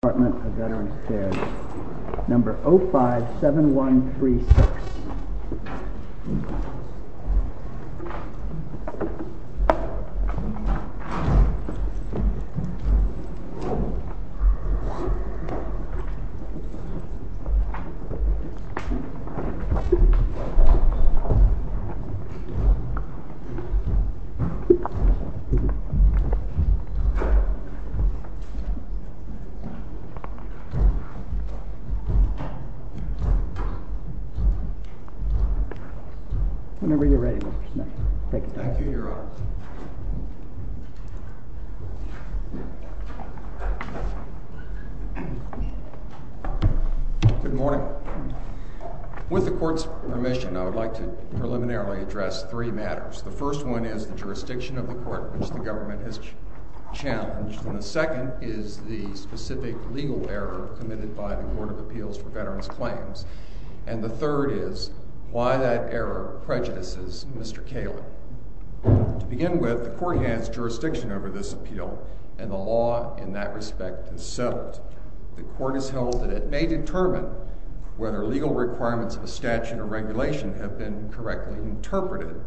Department of Veterans Affairs, number 057136. Thank you, Your Honor. Good morning. With the Court's permission, I would like to preliminarily address three matters. The first one is the jurisdiction of the court which the government has challenged, and the second one is the specific legal error committed by the Board of Appeals for Veterans Claims, and the third is why that error prejudices Mr. Kalin. To begin with, the Court has jurisdiction over this appeal, and the law in that respect has settled. The Court has held that it may determine whether legal requirements of a statute or regulation have been correctly interpreted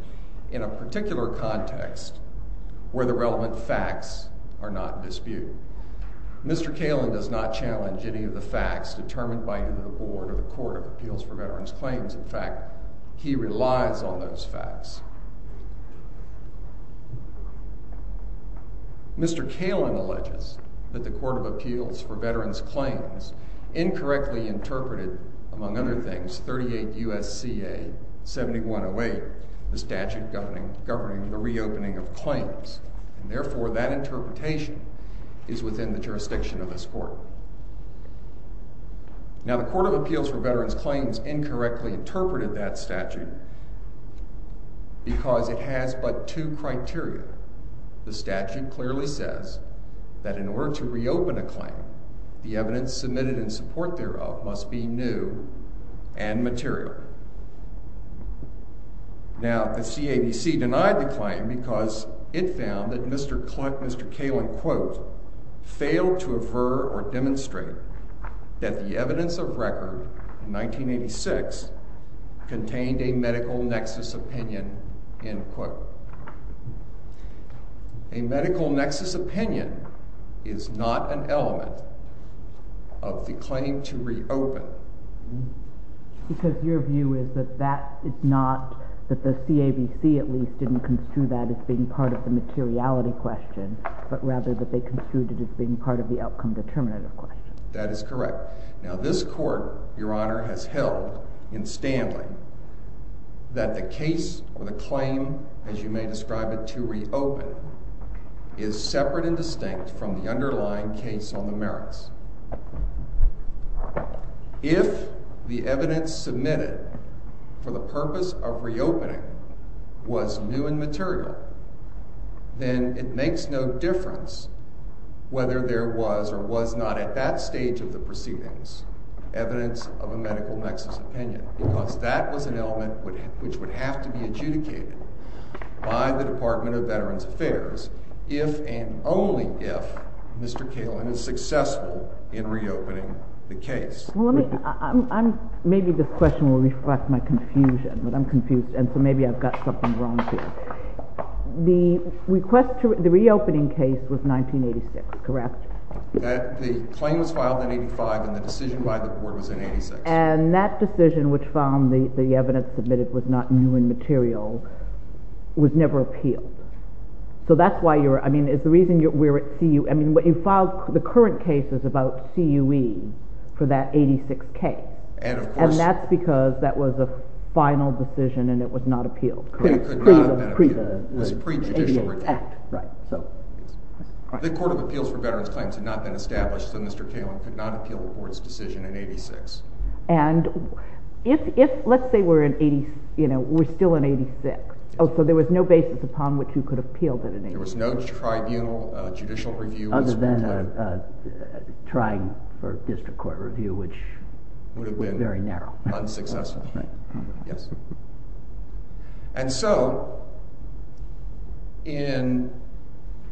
in a particular context where the relevant facts are not in Mr. Kalin does not challenge any of the facts determined by either the Board or the Court of Appeals for Veterans Claims. In fact, he relies on those facts. Mr. Kalin alleges that the Court of Appeals for Veterans Claims incorrectly interpreted, among other things, 38 U.S.C.A. 7108, the statute governing the reopening of claims, and therefore that interpretation is within the jurisdiction of this Court. Now, the Court of Appeals for Veterans Claims incorrectly interpreted that statute because it has but two criteria. The statute clearly says that in order to reopen a claim, the evidence submitted in support thereof must be new and material. Now, the CABC denied the claim because it found that Mr. Klin, Mr. Kalin, quote, failed to aver or demonstrate that the evidence of record in 1986 contained a medical nexus opinion, end quote. A medical nexus opinion is not an element of the claim to reopen. Because your view is that that is not, that the CABC at least didn't construe that as being part of the materiality question, but rather that they construed it as being part of the outcome determinative question. That is correct. Now, this Court, Your Honor, has held in Stanley that the case or the claim, as you may describe it, to reopen is separate and distinct from the underlying case on the merits. If the evidence submitted for the purpose of reopening was new and material, then it makes no difference whether there was or was not at that stage of the proceedings evidence of a medical nexus opinion because that was an element which would have to be adjudicated by the Department of Veterans Affairs if and only if Mr. Kalin is successful in reopening the case. Well, let me, I'm, I'm, maybe this question will reflect my confusion, but I'm confused and so maybe I've got something wrong here. The request to, the reopening case was 1986, correct? The claim was filed in 85 and the decision by the Board was in 86. And that decision, which found the evidence submitted was not new and material, was never appealed. So that's why you're, I mean, it's the reason you're, we're at CU, I mean, you filed the current cases about CUE for that 86K and that's because that was a final decision and it was not appealed. Correct. It could not have been appealed. Pre the 88 Act. Right. So. The Court of Appeals for Veterans Claims had not been established, so Mr. Kalin could not have appealed the Court's decision in 86. And if, if, let's say we're in 80, you know, we're still in 86, oh, so there was no basis upon which you could have appealed it in 86. There was no tribunal, judicial review. Other than a, a trying for district court review, which would have been very narrow. Unsuccessful. Yes. And so in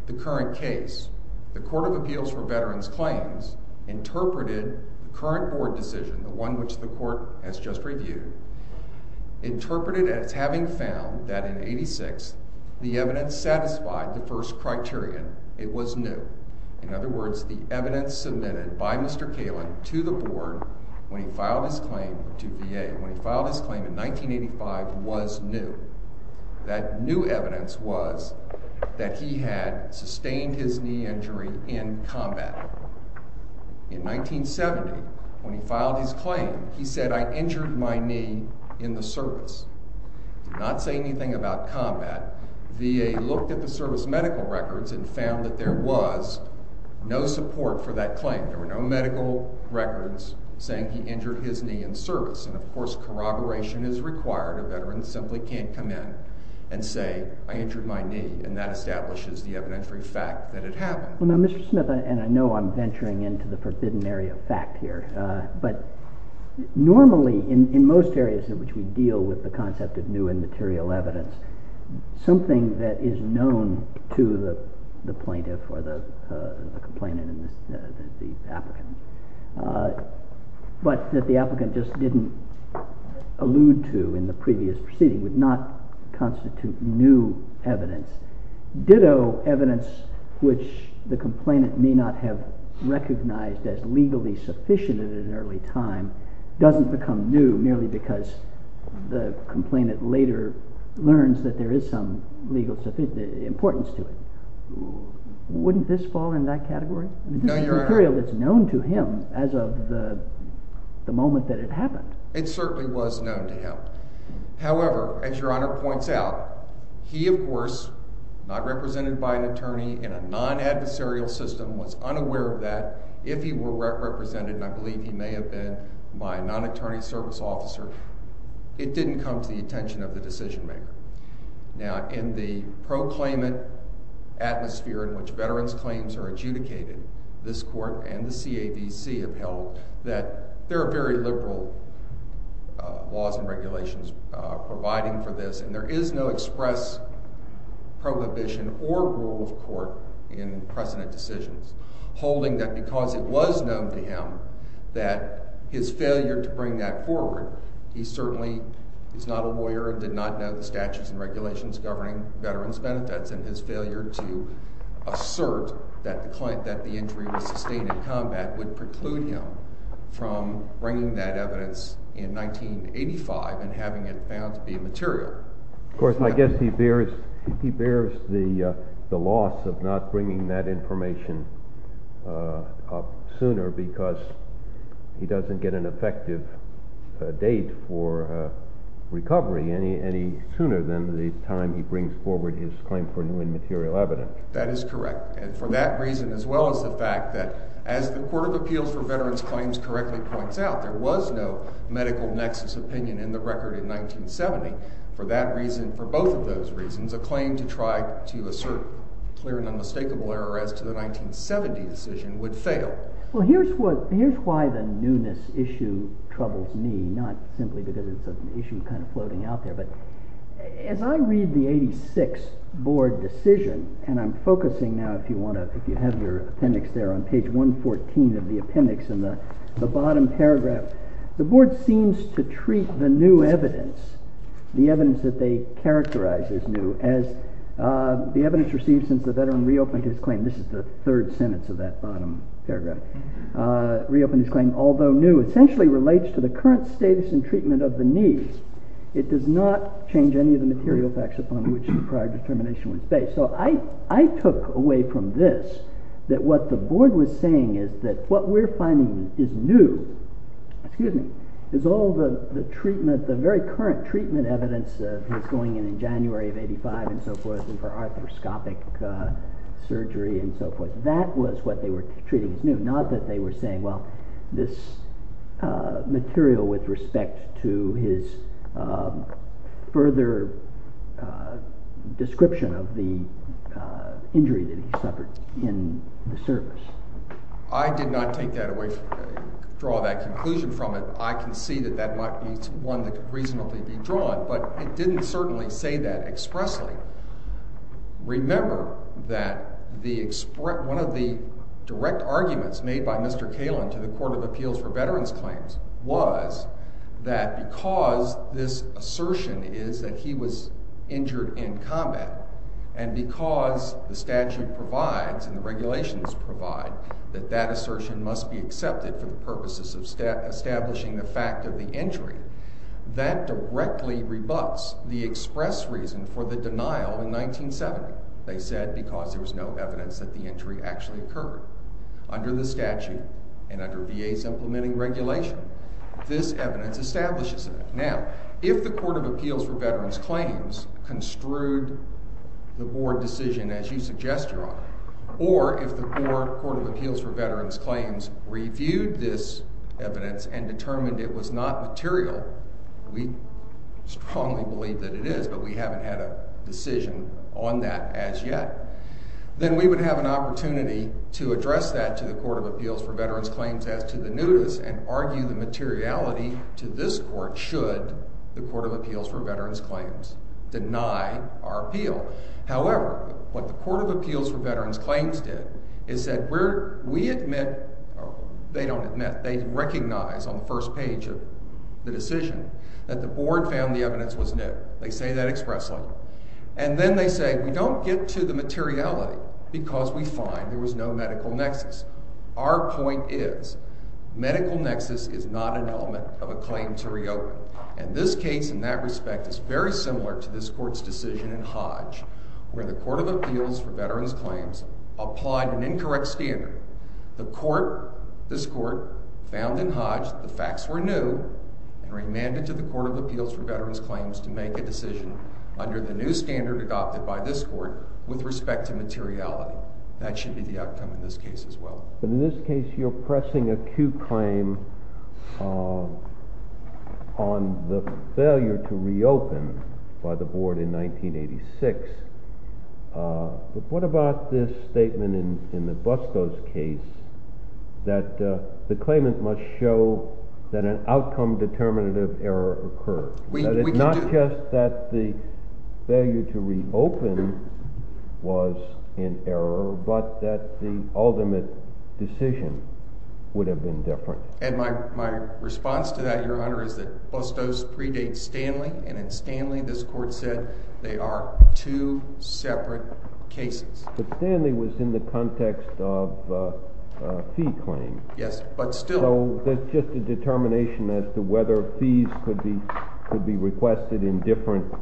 the current case, the Court of Appeals for Veterans Claims interpreted the current board decision, the one which the court has just reviewed, interpreted as having found that in 86, the evidence satisfied the first criterion. It was new. In other words, the evidence submitted by Mr. Kalin to the board when he filed his claim to VA, when he filed his claim in 1985, was new. That new evidence was that he had sustained his knee injury in combat. In 1970, when he filed his claim, he said, I injured my knee in the service. Not saying anything about combat, VA looked at the service medical records and found that there was no support for that claim. There were no medical records saying he injured his knee in service. And of course, corroboration is required. A veteran simply can't come in and say, I injured my knee. And that establishes the evidentiary fact that it happened. Well, now, Mr. Smith, and I know I'm venturing into the forbidden area of fact here, but normally in, in most areas in which we deal with the concept of new and material evidence, something that is known to the plaintiff or the complainant and the applicant, but that the applicant just didn't allude to in the previous proceeding, would not constitute new evidence. Ditto, evidence which the complainant may not have recognized as legally sufficient in an early time doesn't become new merely because the complainant later learns that there is some legal importance to it. Wouldn't this fall in that category? No, Your Honor. This is material that's known to him as of the moment that it happened. It certainly was known to him. However, as Your Honor points out, he of course, not represented by an attorney in a non-adversarial system, was unaware of that. If he were represented, and I believe he may have been, by a non-attorney service officer, it didn't come to the attention of the decision maker. Now, in the pro-claimant atmosphere in which veterans' claims are adjudicated, this Court and the CAVC have held that there are very liberal laws and regulations providing for this type of decision, holding that because it was known to him that his failure to bring that forward, he certainly is not a lawyer and did not know the statutes and regulations governing veterans' benefits, and his failure to assert that the injury was sustained in combat would preclude him from bringing that evidence in 1985 and having it found to be material. Of course, I guess he bears the loss of not bringing that information up sooner because he doesn't get an effective date for recovery any sooner than the time he brings forward his claim for new and material evidence. That is correct. And for that reason, as well as the fact that, as the Court of Appeals for Veterans' Claims correctly points out, there was no medical nexus opinion in the record in 1970, for that reason, for both of those reasons, a claim to try to assert clear and unmistakable error as to the 1970 decision would fail. Well, here's what, here's why the newness issue troubles me, not simply because it's an issue kind of floating out there, but as I read the 86 board decision, and I'm focusing now if you have your appendix there on page 114 of the appendix in the bottom paragraph, the board seems to treat the new evidence, the evidence that they characterize as new, as the evidence received since the veteran reopened his claim, this is the third sentence of that bottom paragraph, reopened his claim, although new, essentially relates to the current status and treatment of the needs, it does not change any of the material facts upon which the prior determination was based. Okay, so I took away from this that what the board was saying is that what we're finding is new, excuse me, is all the treatment, the very current treatment evidence that's going in in January of 85 and so forth, and for arthroscopic surgery and so forth, that was what they were treating as new, not that they were saying, well, this material with respect to his further description of the injury that he suffered in the service. I did not take that away, draw that conclusion from it. I can see that that might be one that could reasonably be drawn, but it didn't certainly say that expressly. Remember that one of the direct arguments made by Mr. Kalin to the Court of Appeals for Veterans Claims was that because this assertion is that he was injured in combat and because the statute provides and the regulations provide that that assertion must be accepted for the purposes of establishing the fact of the injury, that directly rebuts the express reason for the denial in 1970, they said, because there was no evidence that the injury actually occurred. Under the statute and under VA's implementing regulation, this evidence establishes it. Now, if the Court of Appeals for Veterans Claims construed the Board decision as you suggest, Your Honor, or if the Board, Court of Appeals for Veterans Claims, reviewed this evidence and determined it was not material, we strongly believe that it is, but we haven't had a decision on that as yet, then we would have an opportunity to address that to the Court of Appeals for Veterans Claims as to the newness and argue the materiality to this Court should the Court of Appeals for Veterans Claims deny our appeal. However, what the Court of Appeals for Veterans Claims did is that we admit, or they don't admit, they recognize on the first page of the decision that the Board found the evidence was new. They say that expressly. And then they say, we don't get to the materiality because we find there was no medical nexus. Our point is, medical nexus is not an element of a claim to reopen, and this case in that respect is very similar to this Court's decision in Hodge where the Court of Appeals for Veterans Claims applied an incorrect standard. The Court, this Court, found in Hodge the facts were new and remanded to the Court of Appeals for Veterans Claims to make a decision under the new standard adopted by this Court with respect to materiality. That should be the outcome in this case as well. In this case, you're pressing a cute claim on the failure to reopen by the Board in 1986. What about this statement in Nabusco's case that the claimant must show that an outcome of a determinative error occurred, that it's not just that the failure to reopen was an error, but that the ultimate decision would have been different? And my response to that, Your Honor, is that Bustos predates Stanley, and in Stanley, this Court said they are two separate cases. But Stanley was in the context of a fee claim. Yes, but still. So that's just a determination as to whether fees could be requested in different,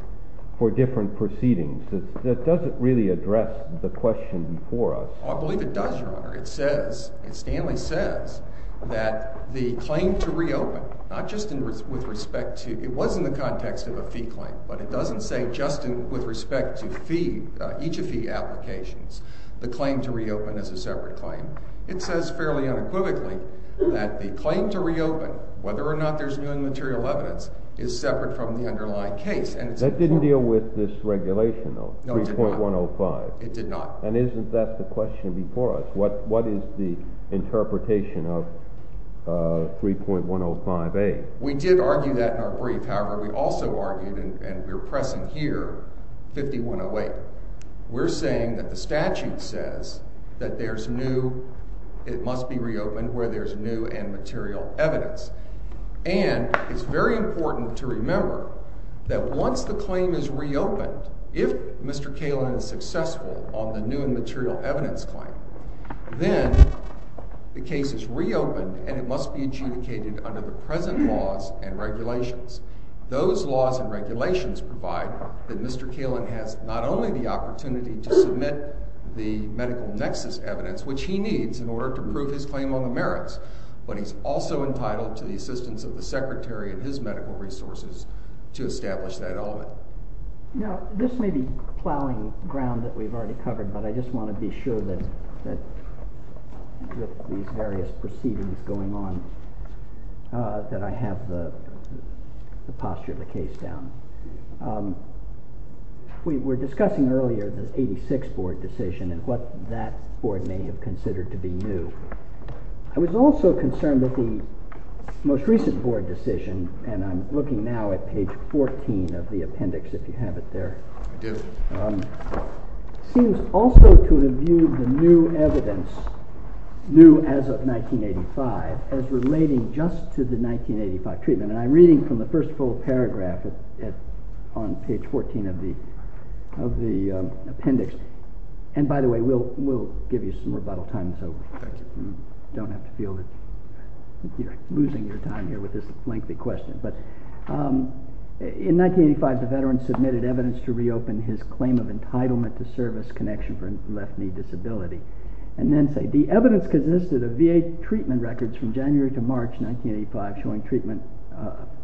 for different proceedings. That doesn't really address the question before us. I believe it does, Your Honor. It says, Stanley says, that the claim to reopen, not just with respect to, it was in the context of a fee claim, but it doesn't say just with respect to each of the applications, the claim to reopen is a separate claim. It says fairly unequivocally that the claim to reopen, whether or not there's new and material evidence, is separate from the underlying case. That didn't deal with this regulation, though, 3.105. No, it did not. It did not. And isn't that the question before us? What is the interpretation of 3.105a? We did argue that in our brief. However, we also argued, and we're pressing here, 5108. We're saying that the statute says that there's new, it must be reopened where there's new and material evidence. And it's very important to remember that once the claim is reopened, if Mr. Kalin is successful on the new and material evidence claim, then the case is reopened and it must be adjudicated under the present laws and regulations. Those laws and regulations provide that Mr. Kalin has not only the opportunity to submit the medical nexus evidence, which he needs in order to prove his claim on the merits, but he's also entitled to the assistance of the secretary and his medical resources to establish that element. Now, this may be plowing ground that we've already covered, but I just want to be sure that with these various proceedings going on that I have the posture of the case down. We were discussing earlier the 86 board decision and what that board may have considered to be new. I was also concerned that the most recent board decision, and I'm looking now at page 14 of the appendix, if you have it there, seems also to have viewed the new evidence, new as of 1985, as relating just to the 1985 treatment. And I'm reading from the first full paragraph on page 14 of the appendix. And by the way, we'll give you some rebuttal time so you don't have to feel that you're losing your time here with this lengthy question. In 1985, the veteran submitted evidence to reopen his claim of entitlement to service connection for a left knee disability. And then say, the evidence consisted of VA treatment records from January to March 1985 showing treatment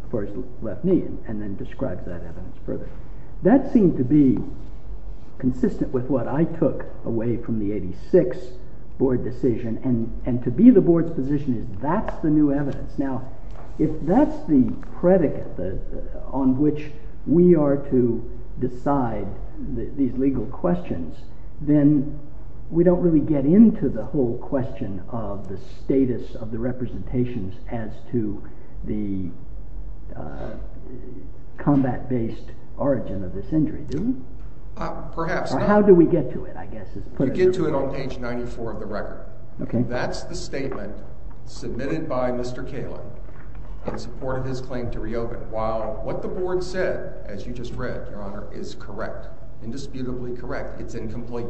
for his left knee, and then described that evidence further. That seemed to be consistent with what I took away from the 86 board decision, and to be the board's position is that's the new evidence. Now, if that's the predicate on which we are to decide these legal questions, then we don't really get into the whole question of the status of the representations as to the combat-based origin of this injury, do we? Perhaps. How do we get to it, I guess? You get to it on page 94 of the record. That's the statement submitted by Mr. Kaelin in support of his claim to reopen. While what the board said, as you just read, Your Honor, is correct, indisputably correct. It's incomplete.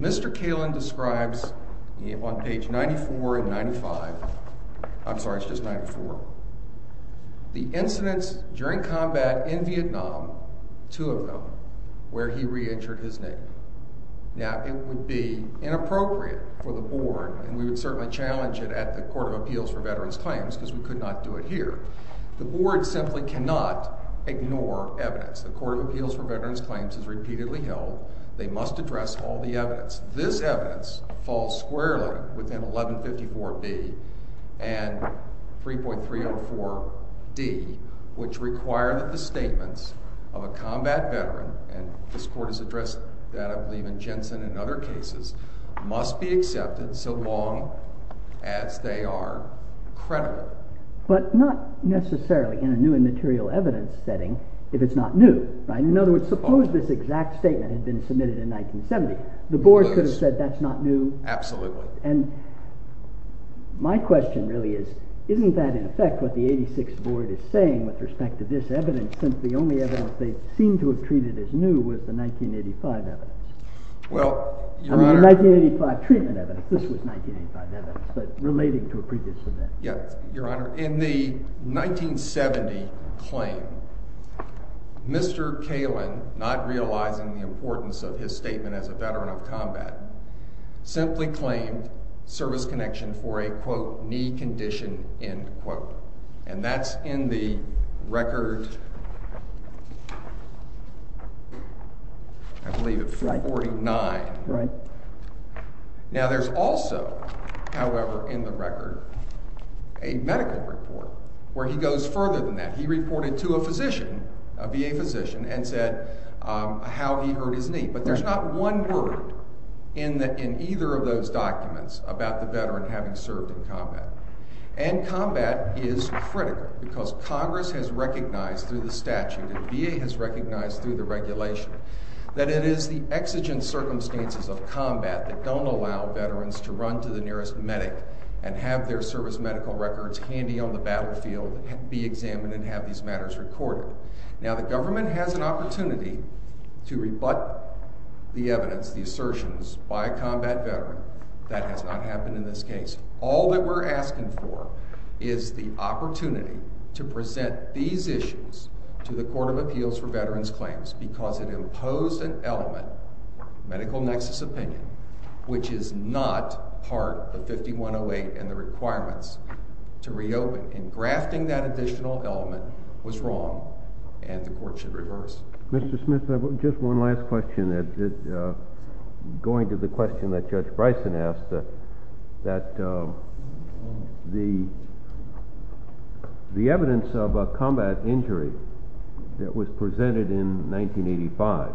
Mr. Kaelin describes on page 94 and 95, I'm sorry, it's just 94, the incidents during combat in Vietnam, two of them, where he reentered his name. Now, it would be inappropriate for the board, and we would certainly challenge it at the Court of Appeals for Veterans Claims, because we could not do it here. The board simply cannot ignore evidence. The Court of Appeals for Veterans Claims has repeatedly held they must address all the evidence. This evidence falls squarely within 1154B and 3.304D, which require that the statements of a combat veteran, and this Court has addressed that, I believe, in Jensen and other cases, must be accepted so long as they are credible. But not necessarily in a new and material evidence setting, if it's not new, right? In other words, suppose this exact statement had been submitted in 1970. The board could have said that's not new. Absolutely. And my question really is, isn't that in effect what the 86th Board is saying with respect to this evidence, since the only evidence they seem to have treated as new was the 1985 evidence? Well, Your Honor— I mean, the 1985 treatment evidence. This was 1985 evidence, but relating to a previous event. Yeah. Your Honor, in the 1970 claim, Mr. Kalin, not realizing the importance of his statement as a veteran of combat, simply claimed service connection for a, quote, knee condition, end quote. And that's in the record, I believe, of 449. Right. Now, there's also, however, in the record, a medical report where he goes further than that. He reported to a physician, a VA physician, and said how he hurt his knee. But there's not one word in either of those documents about the veteran having served in combat. And combat is critical, because Congress has recognized through the statute, and VA has recognized through the regulation, that it is the exigent circumstances of combat that don't allow veterans to run to the nearest medic and have their service medical records handy on the battlefield, be examined, and have these matters recorded. Now, the government has an opportunity to rebut the evidence, the assertions, by a combat veteran. That has not happened in this case. All that we're asking for is the opportunity to present these issues to the Court of Appeals for Veterans Claims, because it imposed an element, medical nexus opinion, which is not part of 5108 and the requirements to reopen. And grafting that additional element was wrong, and the Court should reverse. Mr. Smith, just one last question. Going to the question that Judge Bryson asked, that the evidence of a combat injury that was presented in 1985,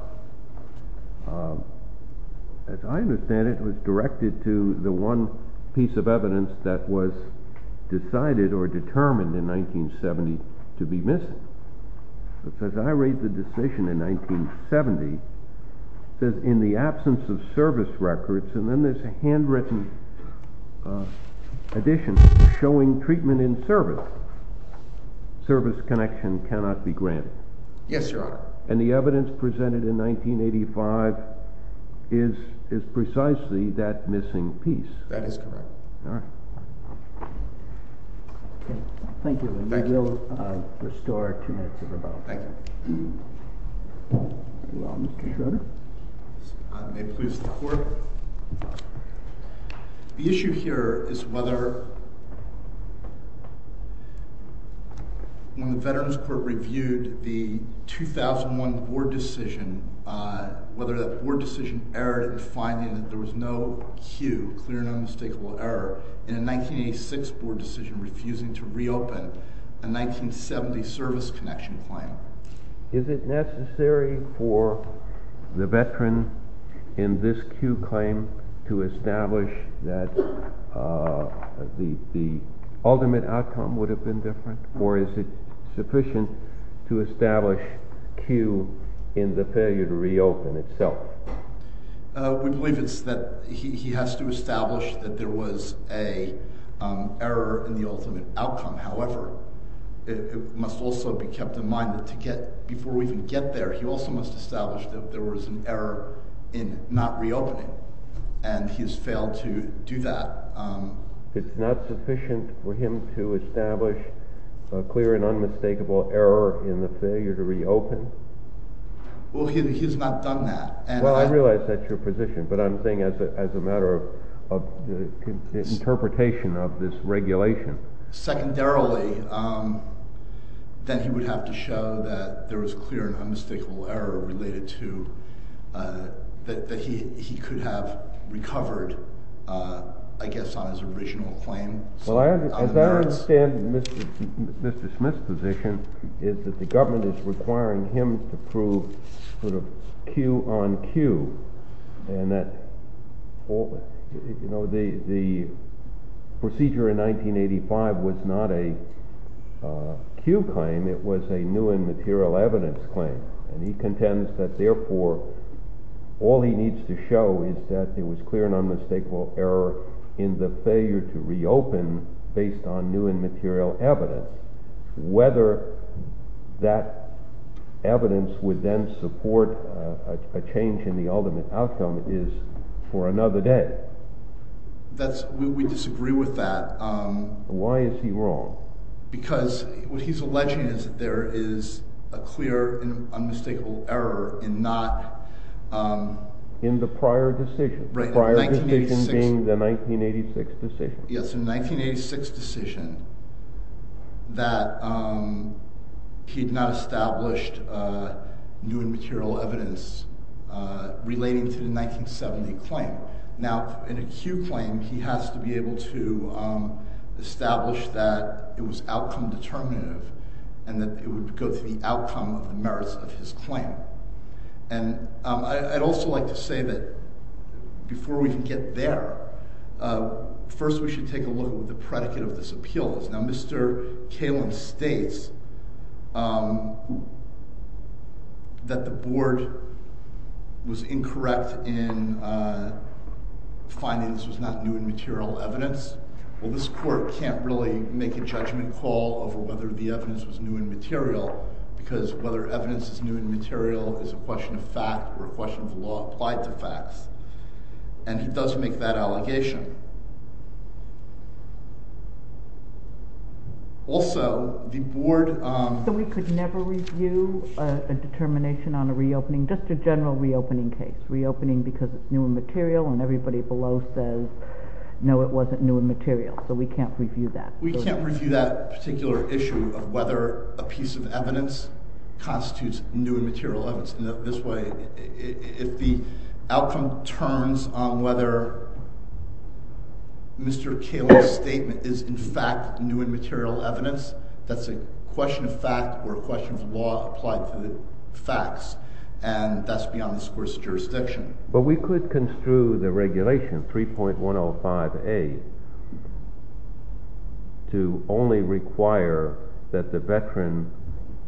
as I understand it, was directed to the one piece of evidence that was decided or determined in 1970 to be missing. But as I read the decision in 1970, it says, in the absence of service records, and then there's a handwritten addition showing treatment in service, service connection cannot be granted. Yes, Your Honor. And the evidence presented in 1985 is precisely that missing piece. That is correct. All right. Thank you. Thank you. We'll restore two minutes of rebuttal. Thank you. You're welcome. Mr. Schroeder? May it please the Court? The issue here is whether, when the Veterans Court reviewed the 2001 board decision, whether that board decision errored in finding that there was no cue, clear and unmistakable error, in a 1986 board decision refusing to reopen a 1970 service connection claim. Is it necessary for the veteran in this cue claim to establish that the ultimate outcome would have been different, or is it sufficient to establish cue in the failure to reopen itself? We believe it's that he has to establish that there was an error in the ultimate outcome. However, it must also be kept in mind that to get, before we can get there, he also must establish that there was an error in not reopening, and he's failed to do that. It's not sufficient for him to establish a clear and unmistakable error in the failure to reopen? Well, he's not done that. Well, I realize that's your position, but I'm saying as a matter of interpretation of this regulation. Secondarily, that he would have to show that there was clear and unmistakable error related to, that he could have recovered, I guess, on his original claim. Well, as I understand Mr. Smith's position is that the government is requiring him to sort of cue on cue, and that the procedure in 1985 was not a cue claim, it was a new and material evidence claim, and he contends that therefore all he needs to show is that there was clear and unmistakable error in the failure to reopen based on new and material evidence. Whether that evidence would then support a change in the ultimate outcome is for another day. We disagree with that. Why is he wrong? Because what he's alleging is that there is a clear and unmistakable error in not... In the prior decision. Prior decision being the 1986 decision. Yes, in the 1986 decision that he had not established new and material evidence relating to the 1970 claim. Now, in a cue claim, he has to be able to establish that it was outcome determinative and that it would go to the outcome of the merits of his claim. And I'd also like to say that before we can get there, first we should take a look at the predicate of this appeal. Now, Mr. Kalin states that the board was incorrect in finding this was not new and material evidence. Well, this court can't really make a judgment call over whether the evidence was new and material is a question of fact or a question of law applied to facts. And he does make that allegation. Also, the board... So we could never review a determination on a reopening, just a general reopening case. Reopening because it's new and material and everybody below says, no, it wasn't new and material. So we can't review that. We can't review that particular issue of whether a piece of evidence constitutes new and material evidence. In this way, if the outcome turns on whether Mr. Kalin's statement is in fact new and material evidence, that's a question of fact or a question of law applied to the facts. And that's beyond the scores of jurisdiction. But we could construe the regulation 3.105A to only require that the veteran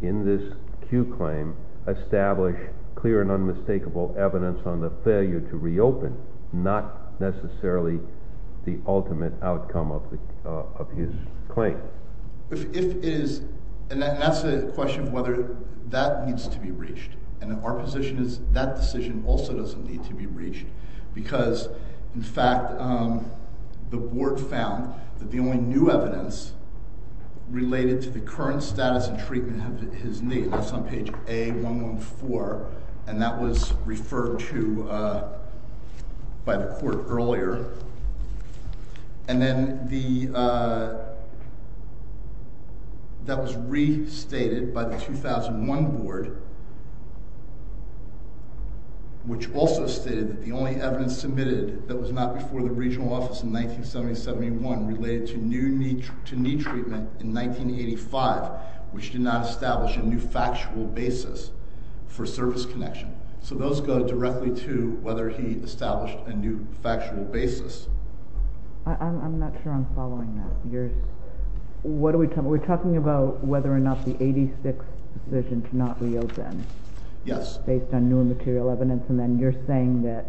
in this Q claim establish clear and unmistakable evidence on the failure to reopen, not necessarily the ultimate outcome of his claim. And that's a question of whether that needs to be reached. And our position is that decision also doesn't need to be reached. Because, in fact, the board found that the only new evidence related to the current status and treatment of his name is on page A114. And that was referred to by the court earlier. And then that was restated by the 2001 board, which also stated that the only evidence submitted that was not before the regional office in 1970-71 related to new knee treatment in 1985, which did not establish a new factual basis for service connection. So those go directly to whether he established a new factual basis. I'm not sure I'm following that. What are we talking about? We're talking about whether or not the 86 decision to not reopen. Yes. Based on new and material evidence. And then you're saying that...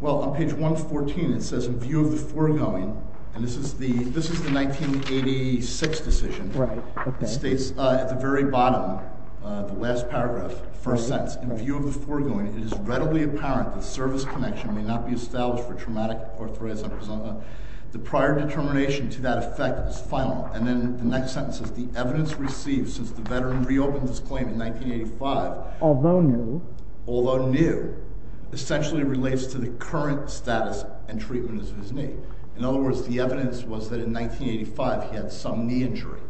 Well, on page 114, it says, in view of the foregoing, and this is the 1986 decision. Right. It states at the very bottom, the last paragraph, first sentence, in view of the foregoing, it is readily apparent that service connection may not be established for traumatic arthritis and prosonda. The prior determination to that effect is final. And then the next sentence is the evidence received since the veteran reopened his claim in 1985. Although new. Although new. Essentially relates to the current status and treatment of his knee. In other words, the evidence was that in 1985 he had some knee injury.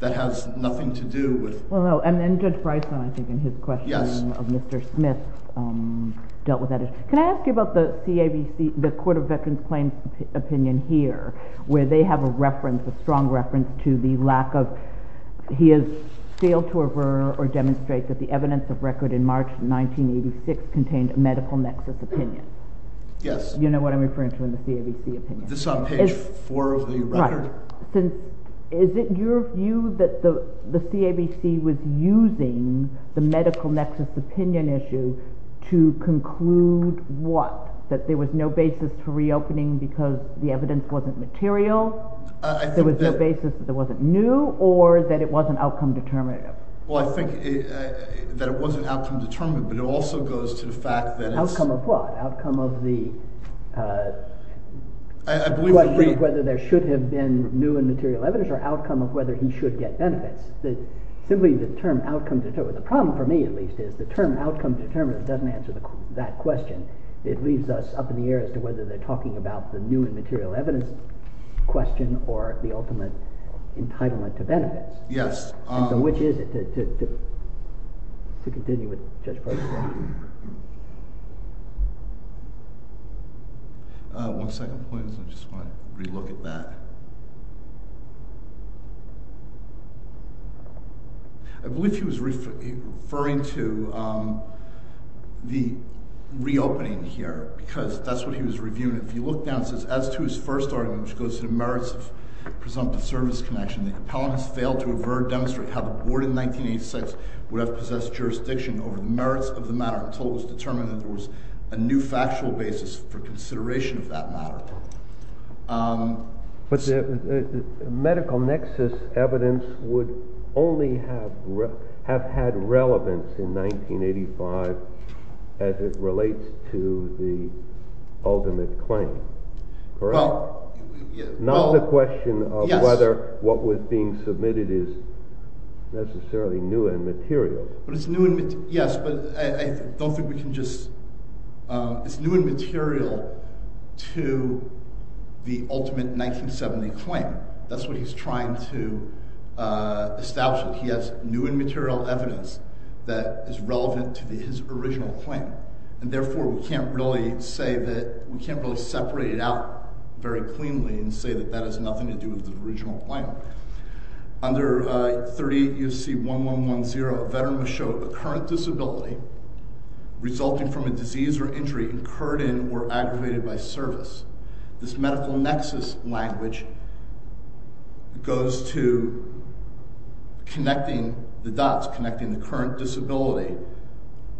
That has nothing to do with... Well, no. And Judge Bryson, I think, in his questioning of Mr. Smith, dealt with that issue. Can I ask you about the CAVC, the Court of Veterans Claims opinion here, where they have a reference, a strong reference, to the lack of... He has failed to aver or demonstrate that the evidence of record in March 1986 contained a medical nexus opinion. Yes. You know what I'm referring to in the CAVC opinion. This is on page 4 of the record. Right. Is it your view that the CAVC was using the medical nexus opinion issue to conclude what? That there was no basis for reopening because the evidence wasn't material? There was no basis that it wasn't new? Or that it wasn't outcome determinative? Well, I think that it wasn't outcome determinative, but it also goes to the fact that it's... I believe that he... ...question of whether there should have been new and material evidence or outcome of whether he should get benefits. Simply the term outcome determinative. The problem for me, at least, is the term outcome determinative doesn't answer that question. It leaves us up in the air as to whether they're talking about the new and material evidence question or the ultimate entitlement to benefits. Yes. And so which is it? To continue with Judge Bryson. One second, please. I just want to re-look at that. I believe he was referring to the reopening here because that's what he was reviewing. If you look down, it says, As to his first argument, which goes to the merits of presumptive service connection, the appellant has failed to avert or demonstrate how the board in 1986 would have possessed jurisdiction over the merits of the matter until it was determined that there was a new factual basis for consideration of that matter. But the medical nexus evidence would only have had relevance in 1985 as it relates to the ultimate claim, correct? Well... Not the question of whether what was being submitted is necessarily new and material. Yes, but I don't think we can just... It's new and material to the ultimate 1970 claim. That's what he's trying to establish. He has new and material evidence that is relevant to his original claim. And therefore, we can't really separate it out very cleanly and say that that has nothing to do with the original claim. Under 38 U.C. 1110, a veteran was shown a current disability resulting from a disease or injury incurred in or aggravated by service. This medical nexus language goes to connecting the dots, connecting the current disability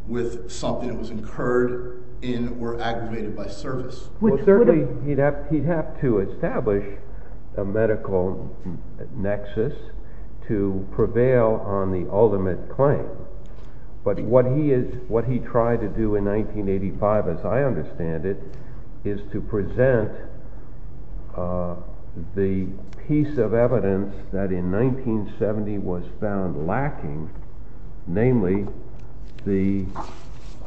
with something that was incurred in or aggravated by service. Certainly, he'd have to establish a medical nexus to prevail on the ultimate claim. But what he tried to do in 1985, as I understand it, is to present the piece of evidence that in 1970 was found lacking, namely the...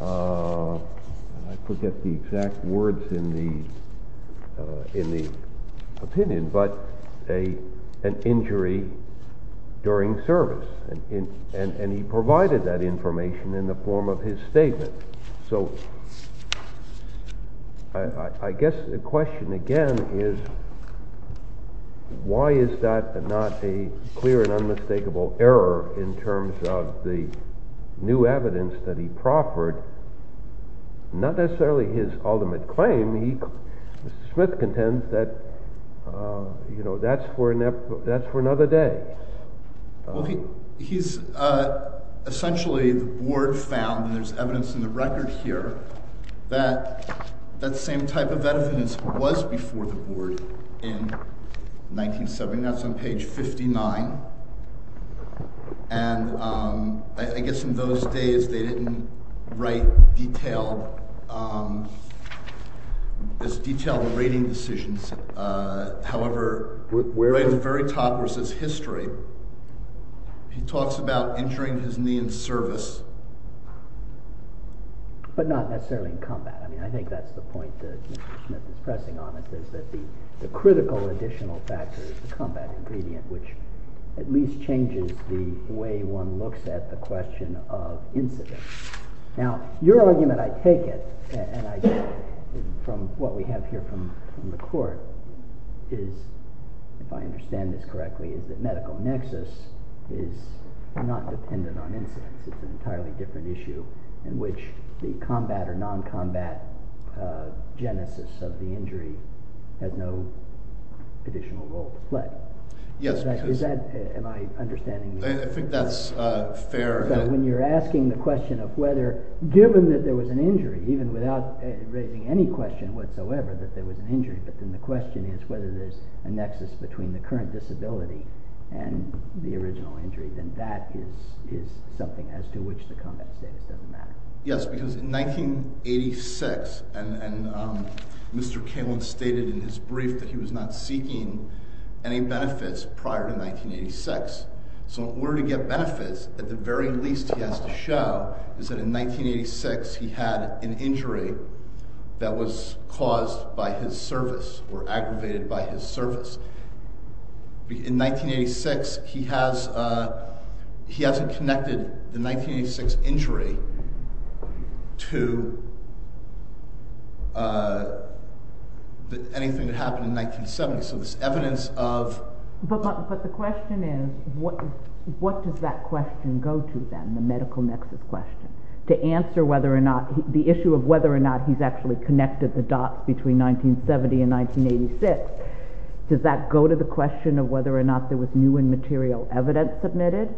I forget the exact words in the opinion, but an injury during service. And he provided that information in the form of his statement. So, I guess the question again is, why is that not a clear and unmistakable error in terms of the new evidence that he proffered? Not necessarily his ultimate claim. Smith contends that, you know, that's for another day. Well, he's... Essentially, the board found, and there's evidence in the record here, that that same type of evidence was before the board in 1970. That's on page 59. And I guess in those days, they didn't write detailed... as detailed rating decisions. However, right at the very top where it says history, he talks about injuring his knee in service. But not necessarily in combat. I mean, I think that's the point that Mr. Smith is pressing on. It says that the critical additional factor is the combat ingredient, which at least changes the way one looks at the question of incidents. Now, your argument, I take it, and I get it from what we have here from the court, is, if I understand this correctly, is that medical nexus is not dependent on incidents. It's an entirely different issue in which the combat or non-combat genesis of the injury has no additional role to play. Yes, because... Am I understanding you? I think that's fair. But when you're asking the question of whether, given that there was an injury, even without raising any question whatsoever that there was an injury, but then the question is whether there's a nexus between the current disability and the original injury, then that is something as to which the comment says it doesn't matter. Yes, because in 1986, and Mr. Kalin stated in his brief that he was not seeking any benefits prior to 1986, so in order to get benefits, at the very least he has to show is that in 1986 he had an injury that was caused by his service, or aggravated by his service. In 1986, he hasn't connected the 1986 injury to anything that happened in 1970, so there's evidence of... But the question is, what does that question go to then, the medical nexus question, to answer the issue of whether or not he's actually connected the dots between 1970 and 1986? Does that go to the question of whether or not there was new and material evidence submitted,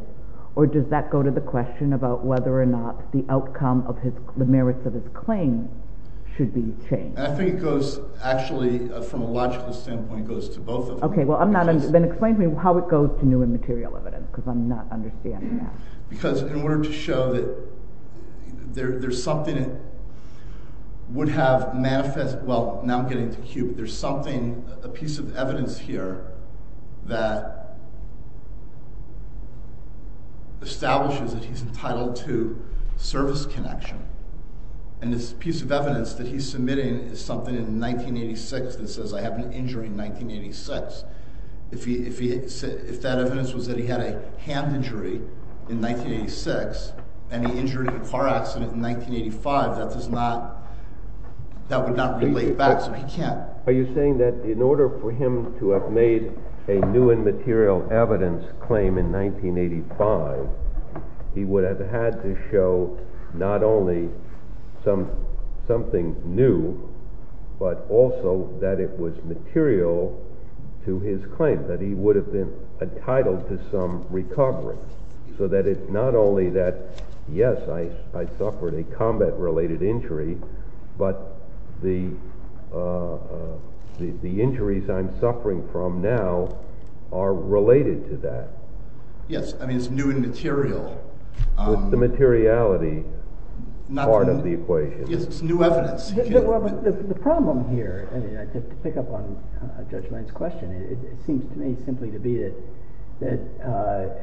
or does that go to the question about whether or not the outcome of the merits of his claim should be changed? I think it goes, actually, from a logical standpoint, it goes to both of them. Okay, then explain to me how it goes to new and material evidence, because I'm not understanding that. Because in order to show that there's something that would have manifested... Well, now I'm getting to Q, there's a piece of evidence here that establishes that he's entitled to service connection. And this piece of evidence that he's submitting is something in 1986 that says, I have an injury in 1986. If that evidence was that he had a hand injury in 1986 and he injured in a car accident in 1985, that would not relate back, because we can't... Are you saying that in order for him to have made a new and material evidence claim in 1985, he would have had to show not only something new, but also that it was material to his claim, that he would have been entitled to some recovery, so that it's not only that, yes, I suffered a combat-related injury, but the injuries I'm suffering from now are related to that? Yes, I mean, it's new and material. With the materiality part of the equation. Yes, it's new evidence. The problem here, to pick up on Judge Mein's question, it seems to me simply to be that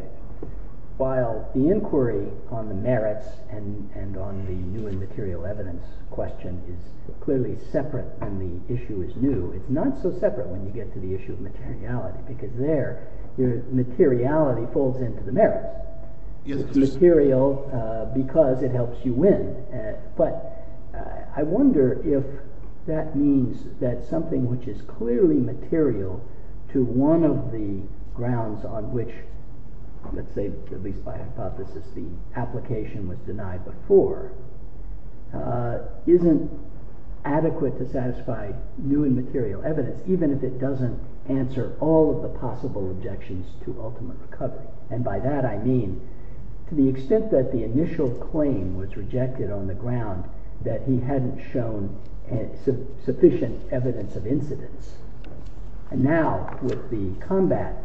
while the inquiry on the merits and on the new and material evidence question is clearly separate and the issue is new, it's not so separate when you get to the issue of materiality, because there, materiality folds into the merit. It's material because it helps you win, but I wonder if that means that something which is clearly material to one of the grounds on which, let's say, at least by hypothesis, the application was denied before, isn't adequate to satisfy new and material evidence, even if it doesn't answer all of the possible objections to ultimate recovery. And by that I mean, to the extent that the initial claim was rejected on the ground that he hadn't shown sufficient evidence of incidence, and now with the combat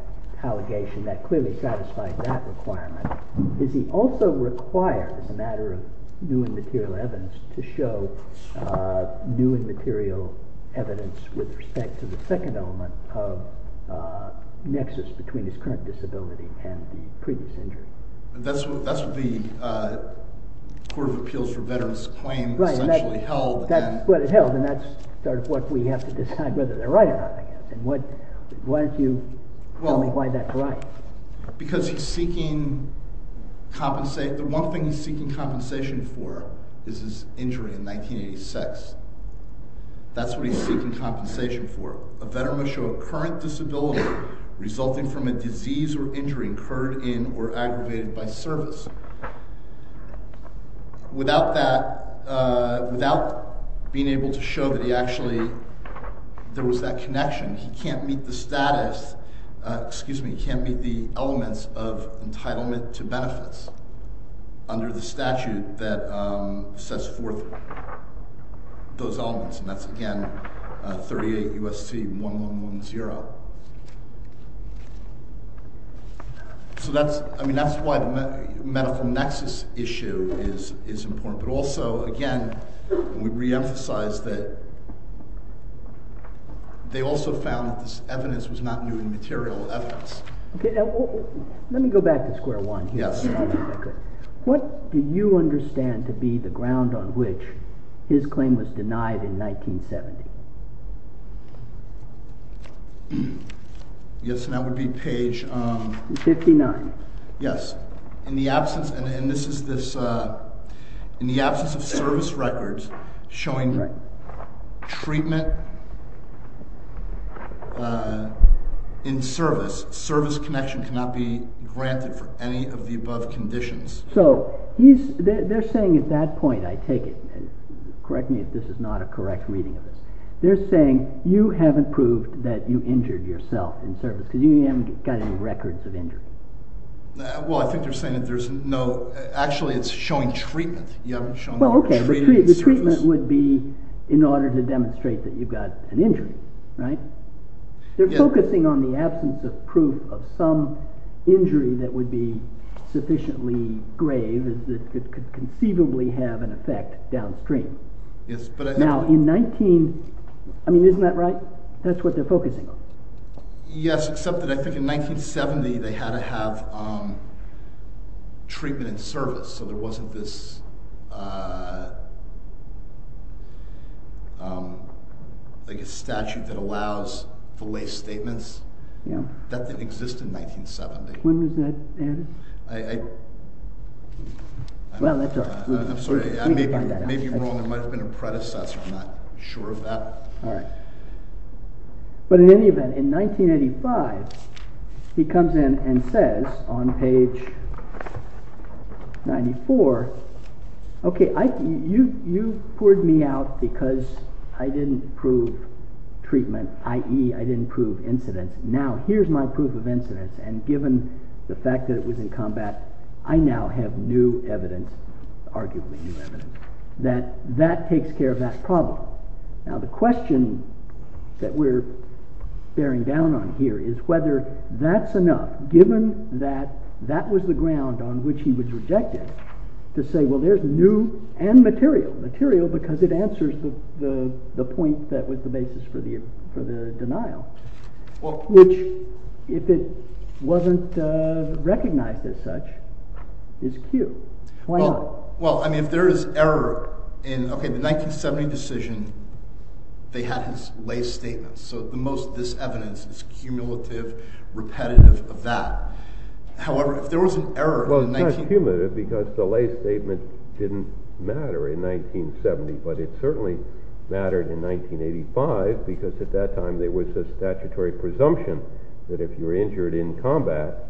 allegation that clearly satisfies that requirement, is he also required, as a matter of new and material evidence, to show new and material evidence with respect to the second element of nexus between his current disability and the previous injury? That's what the Court of Appeals for Veterans' Claim essentially held. That's what it held, and that's sort of what we have to decide whether they're right or not, I guess. Why don't you tell me why that's right? Because he's seeking compensation. The one thing he's seeking compensation for is his injury in 1986. That's what he's seeking compensation for. A veteran must show a current disability resulting from a disease or injury incurred in or aggravated by service. Without that, without being able to show that he actually, there was that connection, he can't meet the status, excuse me, he can't meet the elements of entitlement to benefits under the statute that sets forth those elements, and that's, again, 38 U.S.C. 1110. So that's, I mean, that's why the medical nexus issue is important, but also, again, we reemphasize that they also found that this evidence was not new and material evidence. Let me go back to square one here. What do you understand to be the ground on which his claim was denied in 1970? Yes, and that would be page... 59. Yes. In the absence, and this is this, in the absence of service records showing treatment in service, service connection cannot be granted for any of the above conditions. So they're saying at that point, I take it, correct me if this is not a correct reading of this, they're saying you haven't proved that you injured yourself in service because you haven't got any records of injury. Well, I think they're saying that there's no, actually, it's showing treatment. Well, okay, the treatment would be in order to demonstrate that you've got an injury, right? They're focusing on the absence of proof of some injury that would be sufficiently grave that could conceivably have an effect downstream. Now, in 19, I mean, isn't that right? That's what they're focusing on. they had to have treatment in service, so there wasn't this, like a statute that allows filet statements. That didn't exist in 1970. When was that, Andy? Well, that's all. I'm sorry, I may be wrong, there might have been a predecessor, I'm not sure of that. All right. But in any event, in 1985, he comes in and says on page 94, okay, you poured me out because I didn't prove treatment, i.e., I didn't prove incident. Now, here's my proof of incident, and given the fact that it was in combat, I now have new evidence, arguably new evidence, that that takes care of that problem. Now, the question that we're bearing down on here is whether that's enough, given that that was the ground on which he was rejected, to say, well, there's new and material, material because it answers the point that was the basis for the denial, which, if it wasn't recognized as such, is Q. Why not? Well, I mean, if there is error in, okay, the 1970 decision, they had his lay statements, so the most of this evidence is cumulative, repetitive of that. However, if there was an error, Well, it's not cumulative because the lay statement didn't matter in 1970, but it certainly mattered in 1985 because at that time there was a statutory presumption that if you were injured in combat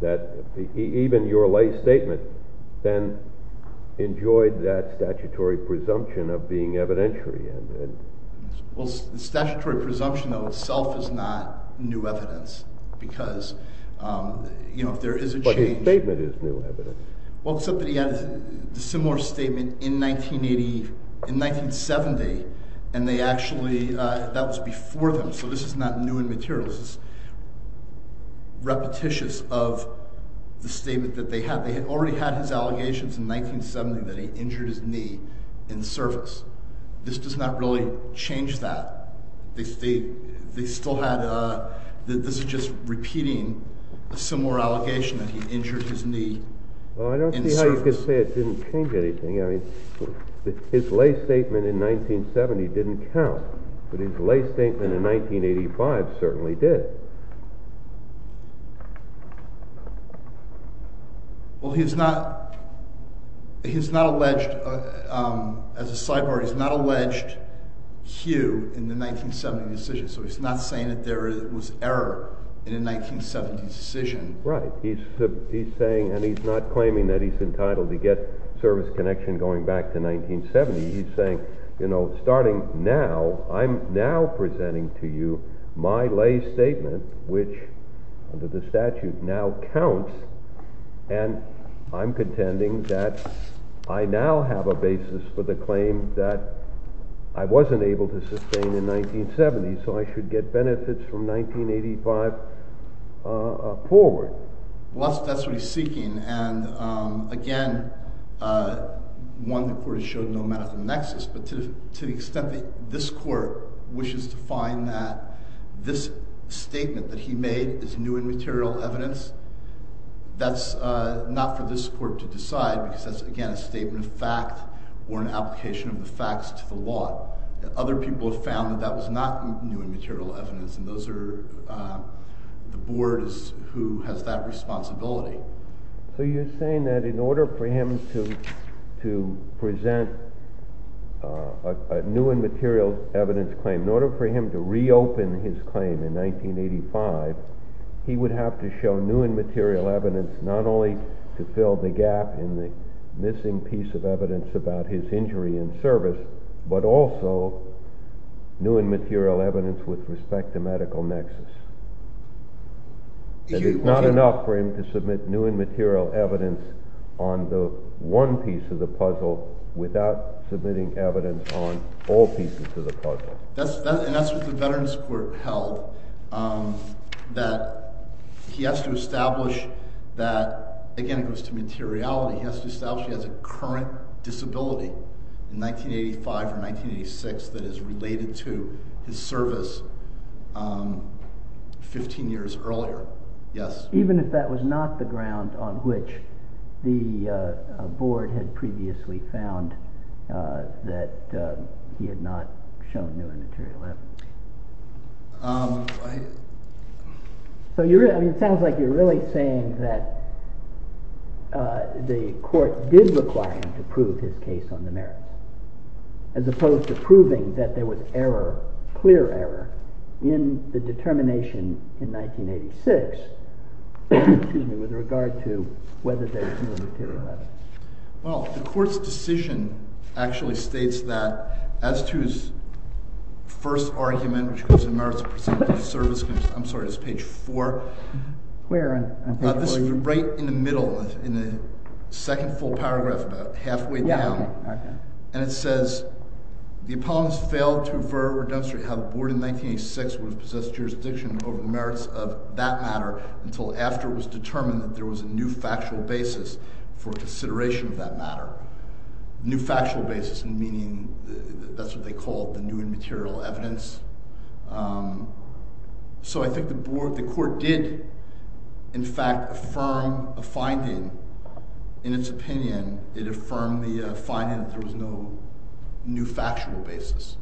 that even your lay statement then enjoyed that statutory presumption of being evidentiary. Well, the statutory presumption of itself is not new evidence because, you know, if there is a change But his statement is new evidence. Well, except that he had a similar statement in 1980, in 1970, and they actually, that was before them, so this is not new and material. This is repetitious of the statement that they had. They had already had his allegations in 1970 that he injured his knee in service. This does not really change that. They still had a, this is just repeating a similar allegation that he injured his knee in service. Well, I don't see how you can say it didn't change anything. I mean, his lay statement in 1970 didn't count, but his lay statement in 1985 certainly did. Well, he's not, he's not alleged, as a sidebar, he's not alleged Hugh in the 1970 decision, so he's not saying that there was error in a 1970 decision. Right, he's saying, and he's not claiming that he's entitled to get service connection going back to 1970. He's saying, you know, starting now, I'm now presenting to you my lay statement, which, under the statute, now counts, and I'm contending that I now have a basis for the claim that I wasn't able to sustain in 1970, so I should get benefits from 1985 forward. Well, that's what he's seeking, and again, one, the court has shown no matter the nexus, but to the extent that this court wishes to find that this statement that he made is new and material evidence, that's not for this court to decide, because that's, again, a statement of fact or an application of the facts to the law. Other people have found that that was not new and material evidence, and those are, the board is who has that responsibility. So you're saying that in order for him to present a new and material evidence claim, in order for him to reopen his claim in 1985, he would have to show new and material evidence not only to fill the gap in the missing piece of evidence about his injury in service, but also new and material evidence Is it not enough for him to submit new and material evidence on the one piece of the puzzle without submitting evidence on all pieces of the puzzle? And that's what the Veterans Court held, that he has to establish that, again, it goes to materiality, he has to establish he has a current disability in 1985 or 1986 that is related to his service 15 years earlier, yes. Even if that was not the ground on which the board had previously found that he had not shown new and material evidence. So it sounds like you're really saying that the court did require him to prove his case on the merits, as opposed to proving that there was error, clear error in the determination in 1986 with regard to whether there was new and material evidence. Well, the court's decision actually states that as to his first argument which was the merits of his service I'm sorry, it's page 4 Where on page 4? This is right in the middle, in the second full paragraph, about halfway down, and it says, the apologist failed to demonstrate how the board in 1986 would have possessed jurisdiction over the merits of that matter until after it was determined that there was a new factual basis for consideration of that matter. New factual basis meaning that's what they called the new and material evidence. So I think the court did in fact affirm a finding in its opinion it affirmed the finding that there was no new factual basis.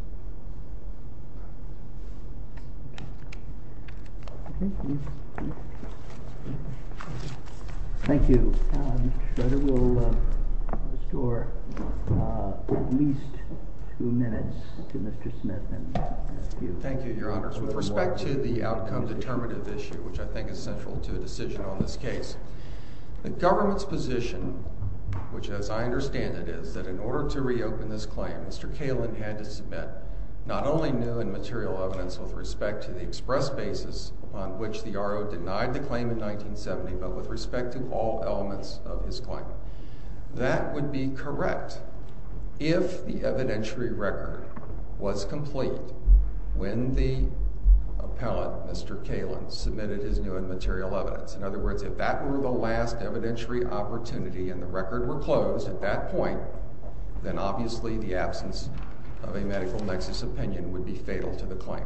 Thank you. Thank you. Mr. Shredder will restore at least two minutes to Mr. Smith. Thank you, your honors. With respect to the outcome determinative issue which I think is central to the decision on this case the government's position which as I understand it is that in order to reopen this claim Mr. Kalin had to submit not only new and material evidence with respect to the express basis on which the RO denied the claim in 1970 but with respect to all elements of his claim. That would be correct if the evidentiary record was complete when the appellant Mr. Kalin submitted his new and material evidence. In other words, if that were the last evidentiary opportunity and the record were closed at that point then obviously the absence of a medical nexus opinion would be fatal to the claim.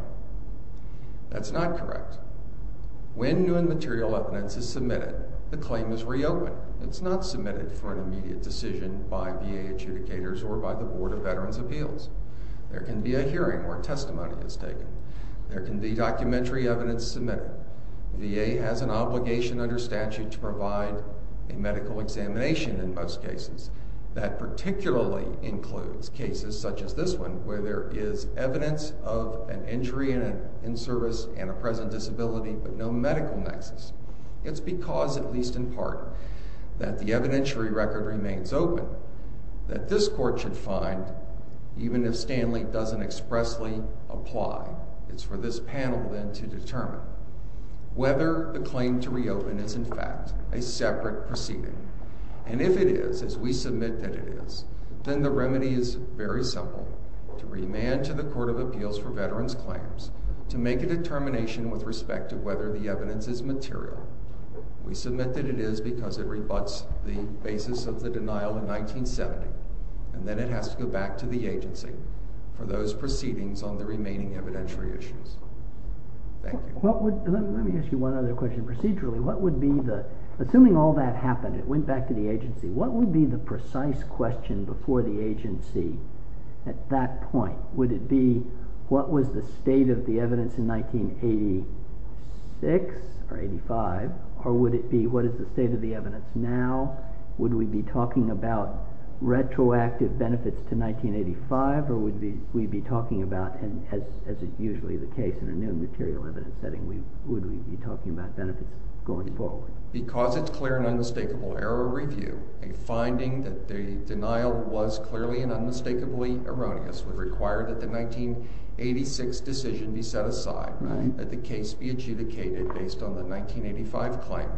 That's not correct. When new and material evidence is submitted the claim is reopened. It's not submitted for an immediate decision by VA adjudicators or by the Board of Veterans' Appeals. There can be a hearing where testimony is taken. There can be documentary evidence submitted. The VA has an obligation under statute to provide a medical examination in most cases. That particularly includes cases such as this one where there is evidence of an injury in service and a present disability but no medical nexus. It's because, at least in part, that the evidentiary record remains open that this Court should find, even if Stanley doesn't expressly apply, it's for this panel then to determine whether the claim to reopen is in fact a separate proceeding. If it is, as we submit that it is, then the remedy is very simple. To remand to the Court of Appeals for Veterans' Claims to make a determination with respect to whether the evidence is material. We submit that it is because it rebuts the basis of the denial in 1970 and then it has to go back to the agency for those proceedings on the remaining evidentiary issues. Let me ask you one other question. Procedurally, what would be the... Assuming all that happened, it went back to the agency, what would be the precise question before the agency at that point? Would it be what was the state of the evidence in 1986 or 85, or would it be what is the state of the evidence now? Would we be talking about retroactive benefits to 1985 or would we be talking about, as is usually the case in a new material evidence setting, would we be talking about benefits going forward? Because it's a clear and unmistakable error review. A finding that the denial was clearly and unmistakably erroneous would require that the 1986 decision be set aside, that the case be adjudicated based on the 1985 claim.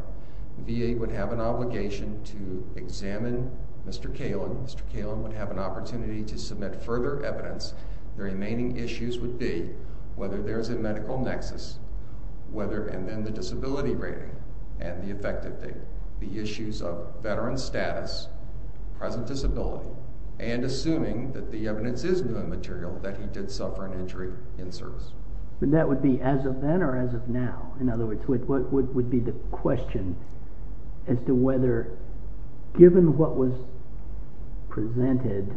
The VA would have an obligation to examine Mr. Kalin. Mr. Kalin would have an opportunity to submit further evidence. The remaining issues would be whether there is a medical nexus, and then the disability rating and the effective date. The issues of veteran status, present disability, and assuming that the evidence is new material, that he did suffer an injury in service. And that would be as of then or as of now? In other words, what would be the question as to whether given what was presented,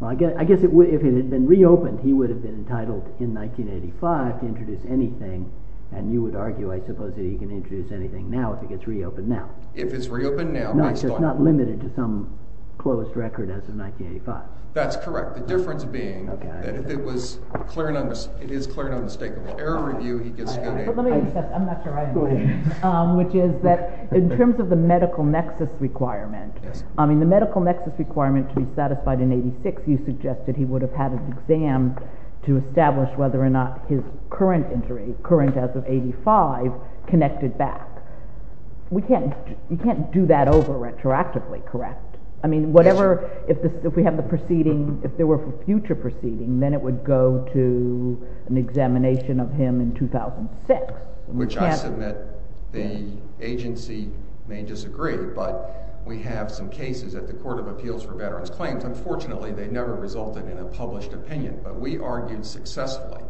I guess if it had been reopened he would have been entitled in 1985 to introduce anything and you would argue I suppose that he can introduce anything now if it gets reopened now. If it's reopened now. No, it's just not limited to some closed record as of 1985. That's correct. The difference being that if it was clear and unmistakable, error review, he gets a good... I'm not sure I understand. Which is that in terms of the medical nexus requirement, I mean the medical nexus requirement to be satisfied in 86, you suggested he would have had an exam to establish whether or not his current injury, current as of 85, connected back. We can't do that over retroactively correct? I mean whatever, if we have the proceeding, if there were future proceeding, then it would go to an examination of him in 2006. Which I submit the agency may disagree, but we have some cases at the Court of Appeals for Veterans Claims, unfortunately they never resulted in a published opinion, but we argued successfully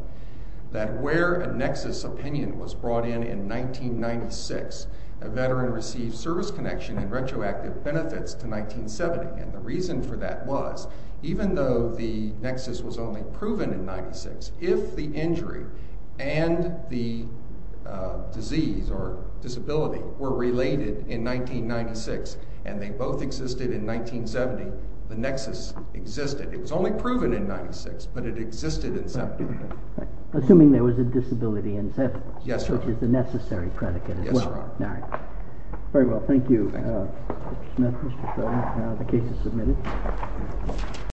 that where a nexus opinion was brought in in 1996, a veteran received service connection and retroactive benefits to 1970. And the reason for that was, even though the nexus was only proven in 96, if the injury and the disease or disability were related in 1996 and they both existed in 1970, the nexus existed. It was only proven in 96, but it existed in 70. Assuming there was a disability in 70, which is a necessary predicate as well. Very well, thank you Mr. Smith, Mr. Sheldon. The case is submitted.